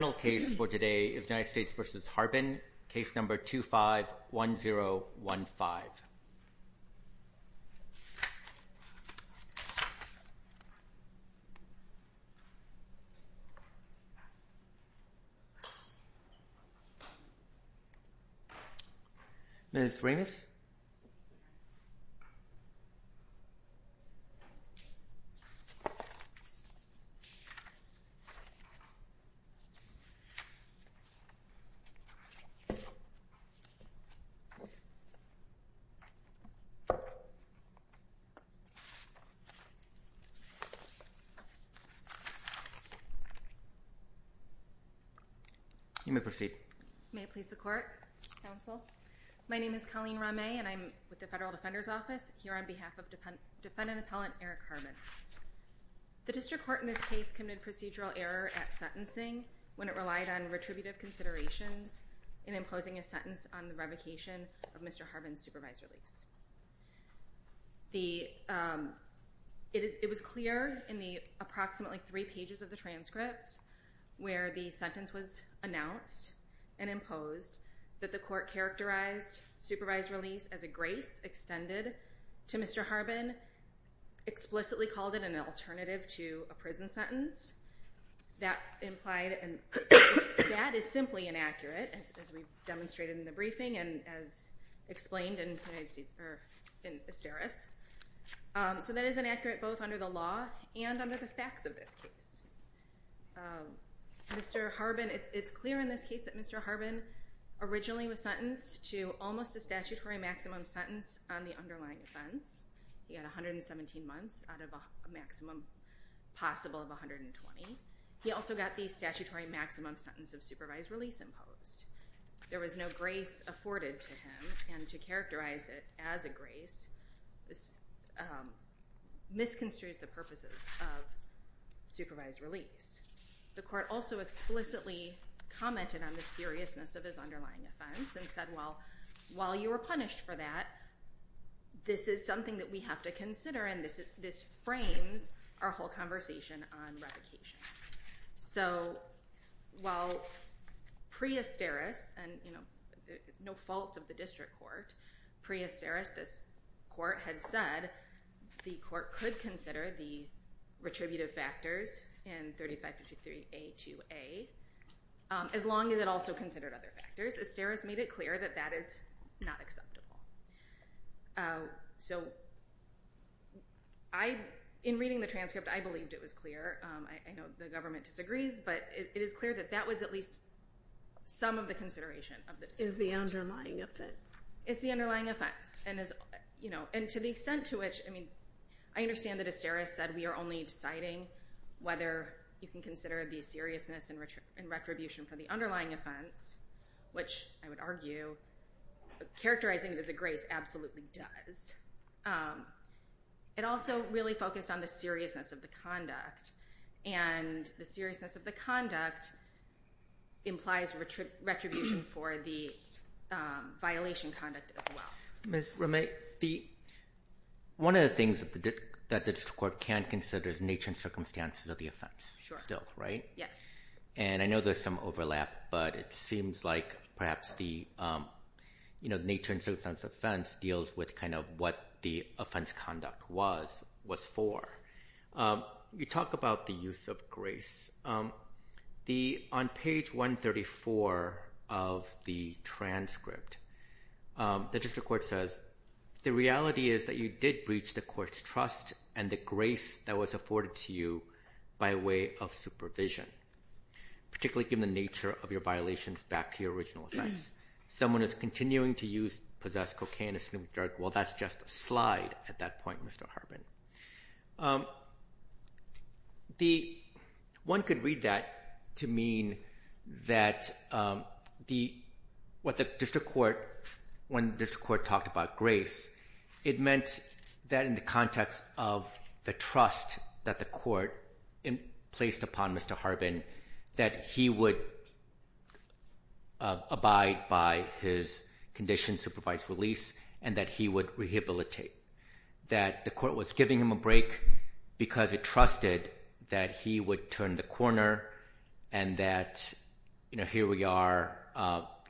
The final case for today is United States v. Harbin, Case No. 25-1015. This is Remus. You may proceed. May it please the Court, Counsel. My name is Colleen Ramay, and I'm with the Federal Defender's Office here on behalf of Defendant Appellant Erik Harbin. The District Court in this case committed procedural error at sentencing when it relied on retributive considerations in imposing a sentence on the revocation of Mr. Harbin's supervised release. It was clear in the approximately three pages of the transcript where the sentence was announced and imposed that the Court characterized supervised release as a grace extended to Mr. Harbin, explicitly called it an alternative to a prison sentence. That is simply inaccurate, as we've demonstrated in the briefing and as explained in Asteris. So that is inaccurate both under the law and under the facts of this case. It's clear in this case that Mr. Harbin originally was sentenced to almost a statutory maximum sentence on the underlying offense. He had 117 months out of a maximum possible of 120. He also got the statutory maximum sentence of supervised release imposed. There was no grace afforded to him, and to characterize it as a grace misconstrues the purposes of supervised release. The Court also explicitly commented on the seriousness of his underlying offense and said, well, while you were punished for that, this is something that we have to consider, and this frames our whole conversation on revocation. So while pre-Asteris, and no fault of the District Court, pre-Asteris, this Court had said, the Court could consider the retributive factors in 3553A2A as long as it also considered other factors. Asteris made it clear that that is not acceptable. So in reading the transcript, I believed it was clear. I know the government disagrees, but it is clear that that was at least some of the consideration of the District Court. It's the underlying offense. It's the underlying offense, and to the extent to which, I mean, I understand that Asteris said, we are only deciding whether you can consider the seriousness and retribution for the underlying offense, which I would argue characterizing it as a grace absolutely does. It also really focused on the seriousness of the conduct, and the seriousness of the conduct implies retribution for the violation conduct as well. Ms. Ramey, one of the things that the District Court can consider is nature and circumstances of the offense still, right? Yes. And I know there's some overlap, but it seems like perhaps the nature and circumstances of the offense deals with kind of what the offense conduct was for. You talk about the use of grace. On page 134 of the transcript, the District Court says, the reality is that you did breach the court's trust and the grace that was afforded to you by way of supervision, particularly given the nature of your violations back to your original offense. Someone is continuing to use, possess cocaine, a snooze drug. Well, that's just a slide at that point, Mr. Harbin. One could read that to mean that what the District Court, when the District Court talked about grace, it meant that in the context of the trust that the court placed upon Mr. Harbin, that he would abide by his conditions to provide release and that he would rehabilitate, that the court was giving him a break because it trusted that he would turn the corner and that here we are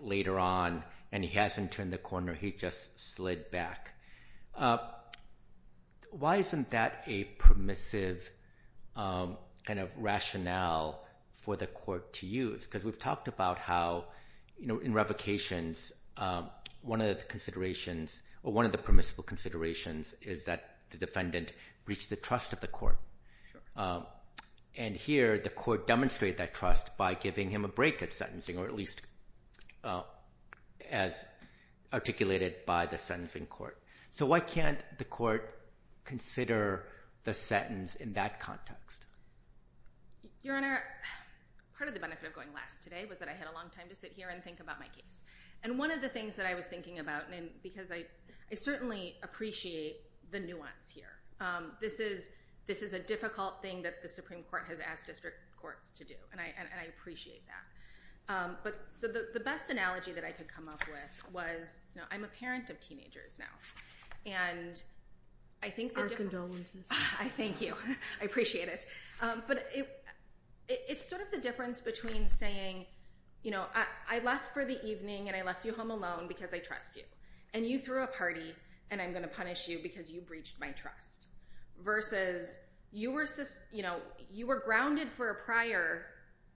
later on and he hasn't turned the corner, he just slid back. Why isn't that a permissive kind of rationale for the court to use? Because we've talked about how in revocations, one of the permissible considerations is that the defendant breached the trust of the court. And here, the court demonstrated that trust by giving him a break at sentencing, or at least as articulated by the sentencing court. So why can't the court consider the sentence in that context? Your Honor, part of the benefit of going last today was that I had a long time to sit here and think about my case. And one of the things that I was thinking about, and because I certainly appreciate the nuance here, this is a difficult thing that the Supreme Court has asked District Courts to do, and I appreciate that. So the best analogy that I could come up with was, I'm a parent of teenagers now. Our condolences. Thank you. I appreciate it. But it's sort of the difference between saying, I left for the evening, and I left you home alone because I trust you. And you threw a party, and I'm going to punish you because you breached my trust. Versus, you were grounded for a prior,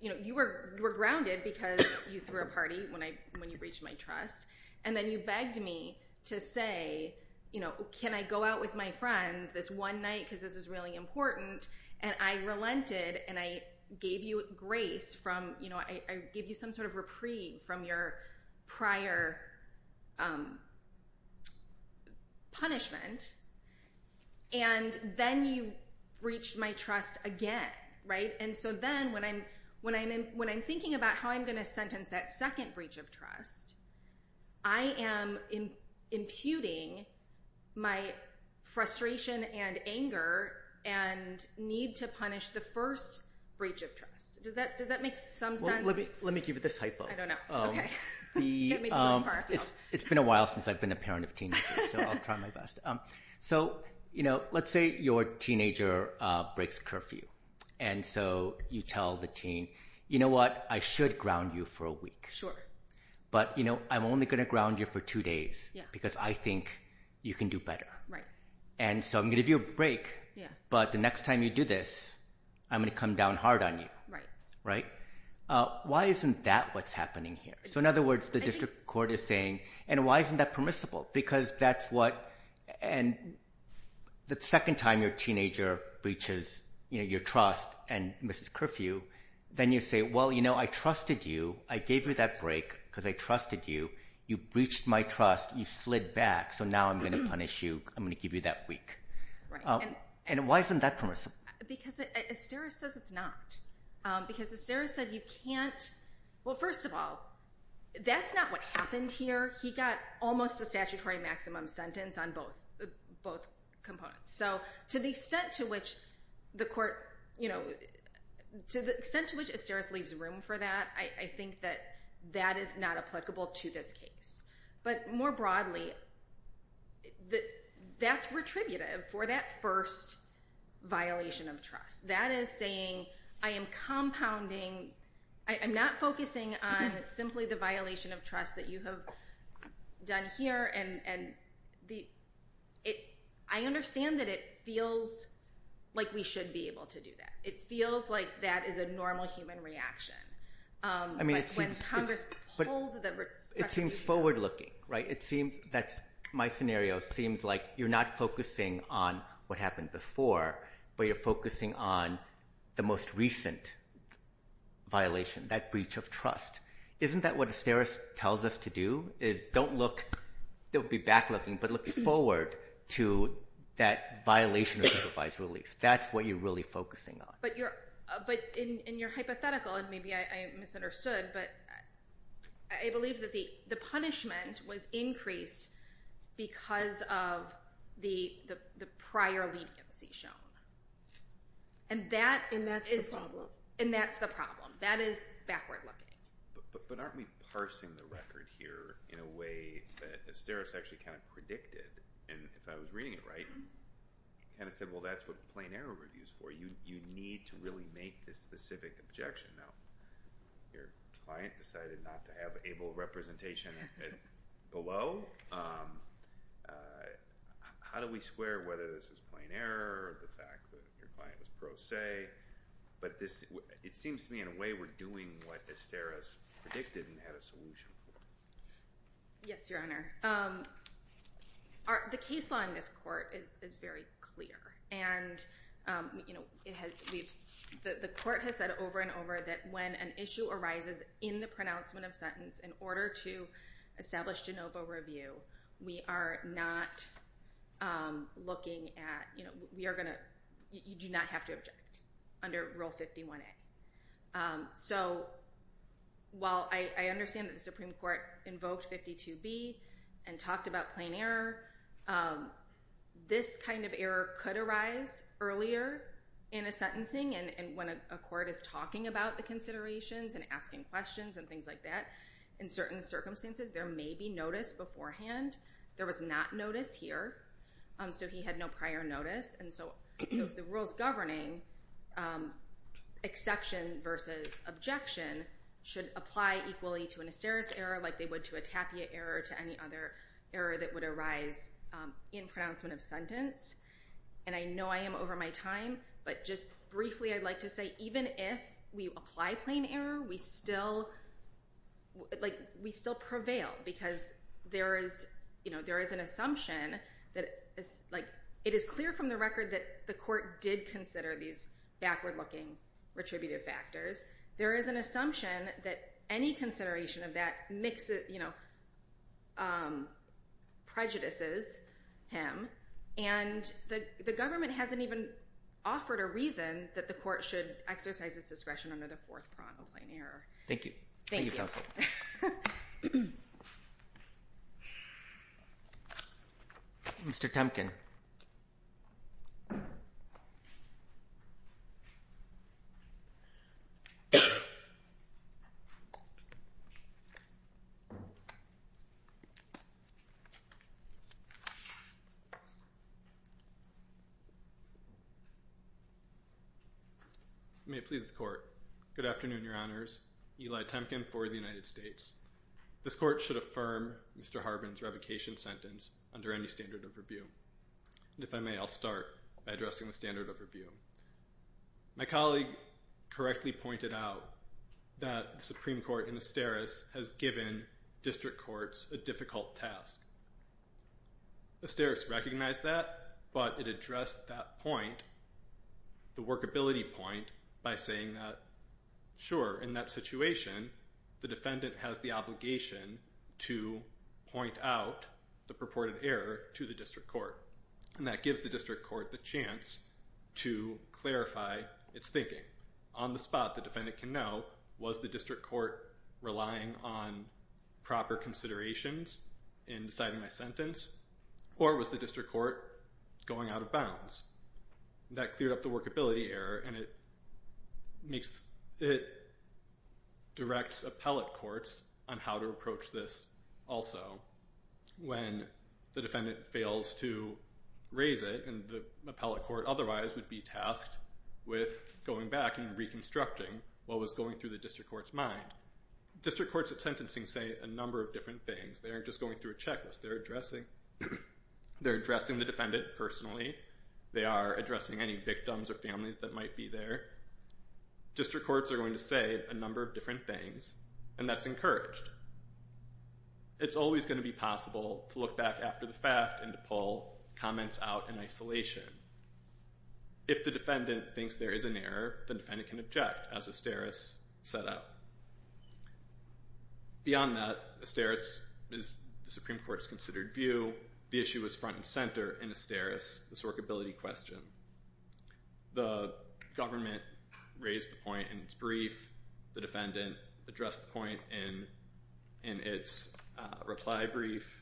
you were grounded because you threw a party when you breached my trust. And then you begged me to say, can I go out with my friends this one night because this is really important? And I relented, and I gave you grace from, I gave you some sort of reprieve from your prior punishment. And then you breached my trust again. And so then, when I'm thinking about how I'm going to sentence that second breach of trust, I am imputing my frustration and anger and need to punish the first breach of trust. Does that make some sense? Let me give you this typo. I don't know. Okay. It's been a while since I've been a parent of teenagers, so I'll try my best. So let's say your teenager breaks curfew. And so you tell the teen, you know what, I should ground you for a week. Sure. But, you know, I'm only going to ground you for two days because I think you can do better. Right. And so I'm going to give you a break. Yeah. But the next time you do this, I'm going to come down hard on you. Right. Right? Why isn't that what's happening here? So in other words, the district court is saying, and why isn't that permissible? Because that's what, and the second time your teenager breaches your trust and misses curfew, then you say, well, you know, I trusted you. I gave you that break because I trusted you. You breached my trust. You slid back. So now I'm going to punish you. I'm going to give you that week. Right. And why isn't that permissible? Because Estera says it's not. Because Estera said you can't, well, first of all, that's not what happened here. He got almost a statutory maximum sentence on both components. So to the extent to which the court, you know, to the extent to which Estera leaves room for that, I think that that is not applicable to this case. But more broadly, that's retributive for that first violation of trust. That is saying I am compounding, I'm not focusing on simply the violation of trust that you have done here. And I understand that it feels like we should be able to do that. It feels like that is a normal human reaction. I mean, it seems forward-looking, right? It seems that my scenario seems like you're not focusing on what happened before, but you're focusing on the most recent violation, that breach of trust. Isn't that what Estera tells us to do is don't look, don't be back-looking, but look forward to that violation of supervised release. That's what you're really focusing on. But in your hypothetical, and maybe I misunderstood, but I believe that the punishment was increased because of the prior leniency shown. And that's the problem. And that's the problem. That is backward-looking. But aren't we parsing the record here in a way that Estera actually kind of predicted? And if I was reading it right, kind of said, well, that's what the plain error review is for. You need to really make this specific objection. Now, your client decided not to have ABLE representation below. How do we square whether this is plain error or the fact that your client was pro se? But it seems to me in a way we're doing what Estera has predicted and had a solution for. Yes, Your Honor. The case law in this court is very clear. And the court has said over and over that when an issue arises in the pronouncement of sentence, in order to establish de novo review, you do not have to object under Rule 51A. So while I understand that the Supreme Court invoked 52B and talked about plain error, this kind of error could arise earlier in a sentencing and when a court is talking about the considerations and asking questions and things like that. In certain circumstances, there may be notice beforehand. There was not notice here, so he had no prior notice. And so the rules governing exception versus objection should apply equally to an Estera's error like they would to a Tapia error or to any other error that would arise in pronouncement of sentence. And I know I am over my time, but just briefly I'd like to say even if we apply plain error, we still prevail because there is an assumption that it is clear from the record that the court did consider these backward-looking retributive factors. There is an assumption that any consideration of that prejudices him. And the government hasn't even offered a reason that the court should exercise its discretion under the fourth prong of plain error. Thank you. Thank you, counsel. Mr. Temkin. May it please the court. Good afternoon, your honors. Eli Temkin for the United States. This court should affirm Mr. Harbin's revocation sentence under any standard of review. And if I may, I'll start by addressing the standard of review. My colleague correctly pointed out that the Supreme Court in Esteras has given district courts a difficult task. Esteras recognized that, but it addressed that point, the workability point, by saying that, sure, in that situation, the defendant has the obligation to point out the purported error to the district court, and that gives the district court the chance to clarify its thinking. On the spot, the defendant can know, was the district court relying on proper considerations in deciding my sentence, or was the district court going out of bounds? That cleared up the workability error, and it directs appellate courts on how to approach this also when the defendant fails to raise it, and the appellate court otherwise would be tasked with going back and reconstructing what was going through the district court's mind. District courts of sentencing say a number of different things. They aren't just going through a checklist. They're addressing the defendant personally. They are addressing any victims or families that might be there. District courts are going to say a number of different things, and that's encouraged. It's always going to be possible to look back after the fact and to pull comments out in isolation. If the defendant thinks there is an error, the defendant can object, as Esteras set out. Beyond that, Esteras is the Supreme Court's considered view. The issue is front and center in Esteras' workability question. The government raised the point in its brief. The defendant addressed the point in its reply brief,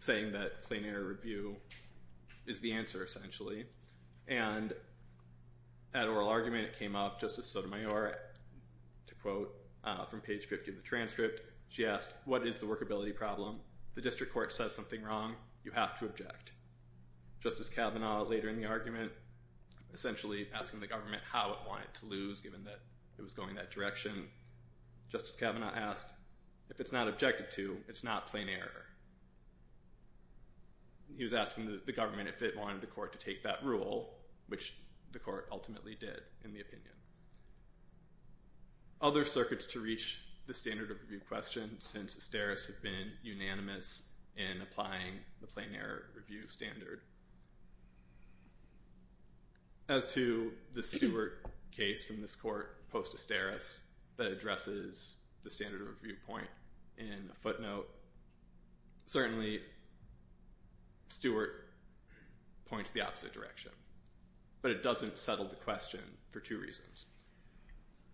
saying that plain error review is the answer, essentially. At oral argument, it came up, Justice Sotomayor, to quote from page 50 of the transcript, she asked, what is the workability problem? The district court says something wrong. You have to object. Justice Kavanaugh, later in the argument, essentially asking the government how it wanted to lose, given that it was going that direction. Justice Kavanaugh asked, if it's not objected to, it's not plain error. He was asking the government if it wanted the court to take that rule, which the court ultimately did, in the opinion. Other circuits to reach the standard of review question, since Esteras had been unanimous in applying the plain error review standard. As to the Stewart case from this court, post-Esteras, that addresses the standard of review point in a footnote, certainly Stewart points the opposite direction. But it doesn't settle the question for two reasons.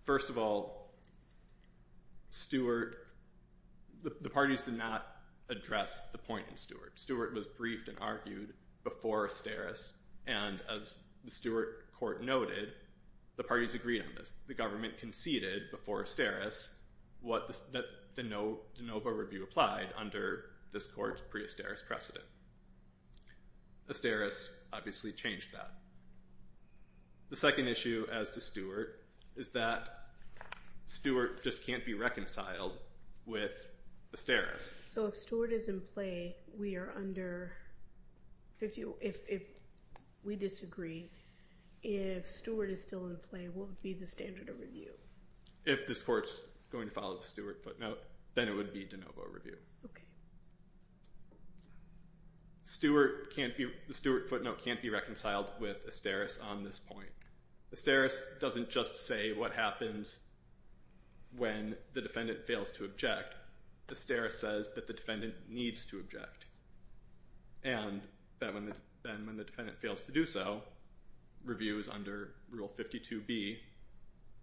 First of all, Stewart, the parties did not address the point in Stewart. Stewart was briefed and argued before Esteras, and as the Stewart court noted, the parties agreed on this. The government conceded before Esteras that the NOVA review applied under this court's pre-Esteras precedent. Esteras obviously changed that. The second issue, as to Stewart, is that Stewart just can't be reconciled with Esteras. So if Stewart is in play, we disagree. If Stewart is still in play, what would be the standard of review? If this court's going to follow the Stewart footnote, then it would be de novo review. The Stewart footnote can't be reconciled with Esteras on this point. Esteras doesn't just say what happens when the defendant fails to object. Esteras says that the defendant needs to object, and that when the defendant fails to do so, review is under Rule 52B,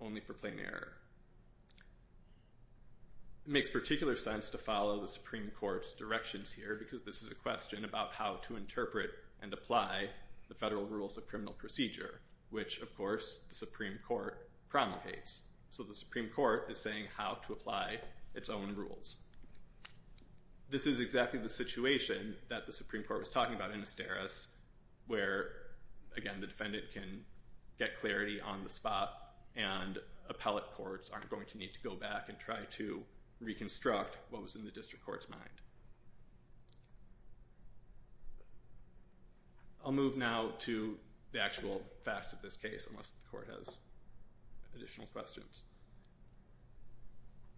only for plain error. It makes particular sense to follow the Supreme Court's directions here, because this is a question about how to interpret and apply the federal rules of criminal procedure, which, of course, the Supreme Court promulgates. So the Supreme Court is saying how to apply its own rules. This is exactly the situation that the Supreme Court was talking about in Esteras, where, again, the defendant can get clarity on the spot, and appellate courts aren't going to need to go back and try to reconstruct what was in the district court's mind. I'll move now to the actual facts of this case, unless the court has additional questions.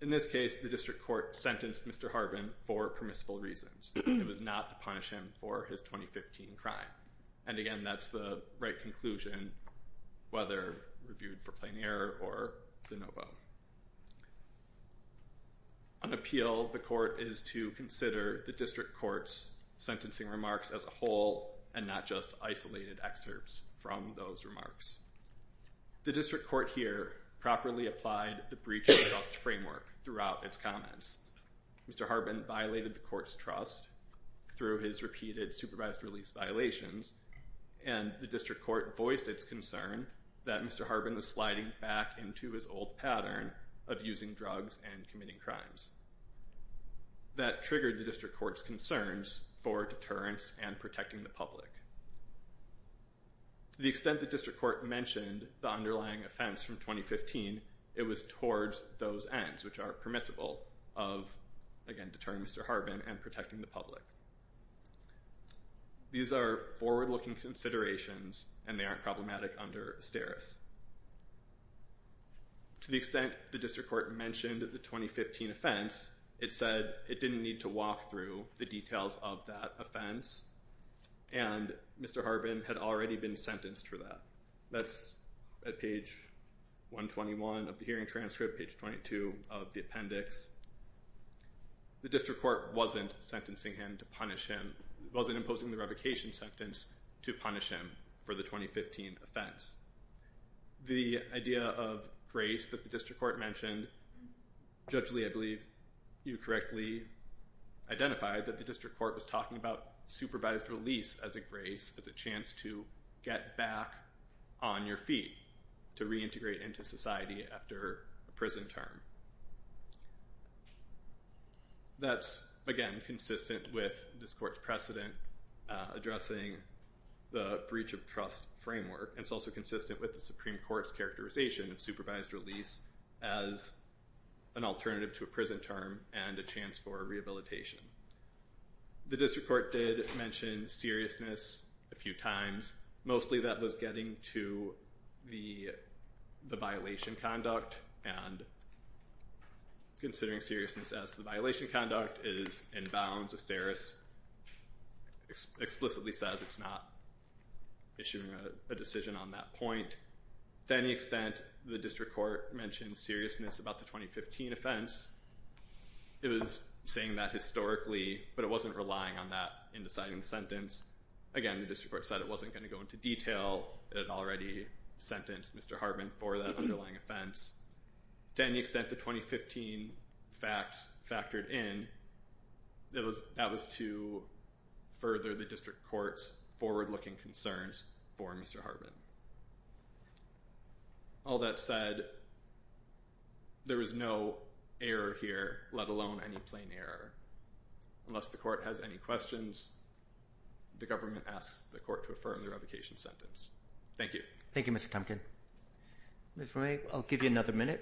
In this case, the district court sentenced Mr. Harbin for permissible reasons. It was not to punish him for his 2015 crime. And, again, that's the right conclusion, whether reviewed for plain error or de novo. An appeal of the court is to consider the district court's sentencing remarks as a whole, and not just isolated excerpts from those remarks. The district court here properly applied the breach of trust framework throughout its comments. Mr. Harbin violated the court's trust through his repeated supervised release violations, and the district court voiced its concern that Mr. Harbin was sliding back into his old pattern of using drugs and committing crimes. That triggered the district court's concerns for deterrence and protecting the public. To the extent the district court mentioned the underlying offense from 2015, it was towards those ends which are permissible of, again, deterring Mr. Harbin and protecting the public. These are forward-looking considerations, and they aren't problematic under Asteris. To the extent the district court mentioned the 2015 offense, it said it didn't need to walk through the details of that offense, and Mr. Harbin had already been sentenced for that. That's at page 121 of the hearing transcript, page 22 of the appendix. The district court wasn't sentencing him to punish him. It wasn't imposing the revocation sentence to punish him for the 2015 offense. The idea of grace that the district court mentioned, judgely I believe you correctly identified that the district court was talking about supervised release as a grace, as a chance to get back on your feet, to reintegrate into society after a prison term. That's, again, consistent with this court's precedent addressing the breach of trust framework, and it's also consistent with the Supreme Court's characterization of supervised release as an alternative to a prison term and a chance for rehabilitation. The district court did mention seriousness a few times. Mostly that was getting to the violation conduct, and considering seriousness as to the violation conduct is in bounds. Asteris explicitly says it's not issuing a decision on that point. To any extent, the district court mentioned seriousness about the 2015 offense. It was saying that historically, but it wasn't relying on that in deciding the sentence. Again, the district court said it wasn't going to go into detail. It had already sentenced Mr. Harbin for that underlying offense. To any extent, the 2015 facts factored in. That was to further the district court's forward-looking concerns for Mr. Harbin. All that said, there was no error here, let alone any plain error. Unless the court has any questions, the government asks the court to affirm the revocation sentence. Thank you. Thank you, Mr. Tompkins. Ms. Romay, I'll give you another minute.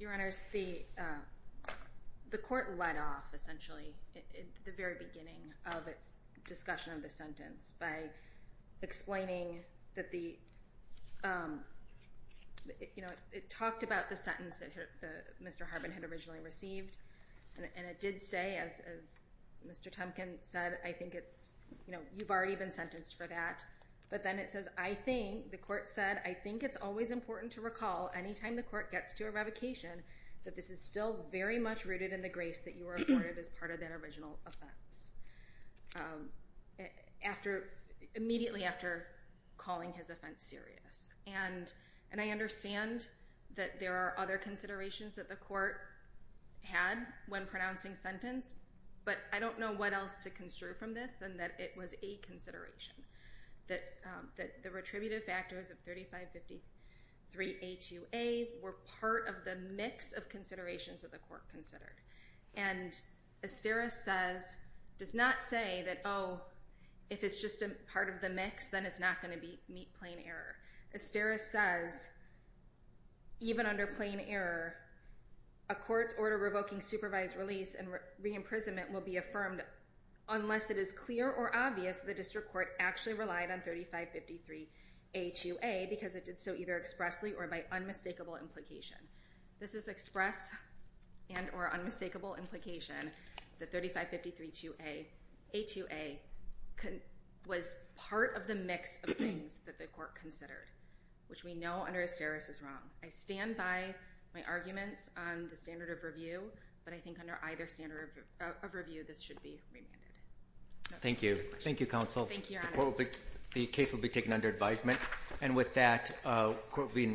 Your Honors, the court let off, essentially, at the very beginning of its discussion of the sentence by explaining that it talked about the sentence that Mr. Harbin had originally received. It did say, as Mr. Tompkins said, you've already been sentenced for that. But then it says, the court said, I think it's always important to recall any time the court gets to a revocation that this is still very much rooted in the grace that you were afforded as part of that original offense. Immediately after calling his offense serious. And I understand that there are other considerations that the court had when pronouncing sentence, but I don't know what else to construe from this than that it was a consideration. That the retributive factors of 3553A2A were part of the mix of considerations that the court considered. And Asteris says, does not say that, oh, if it's just a part of the mix, then it's not going to meet plain error. Asteris says, even under plain error, a court's order revoking supervised release and re-imprisonment will be affirmed unless it is clear or obvious the district court actually relied on 3553A2A because it did so either expressly or by unmistakable implication. This is express and or unmistakable implication that 3553A2A was part of the mix of things that the court considered, which we know under Asteris is wrong. I stand by my arguments on the standard of review, but I think under either standard of review, this should be remanded. Thank you. Thank you, counsel. The case will be taken under advisement. And with that, the court will be in recess.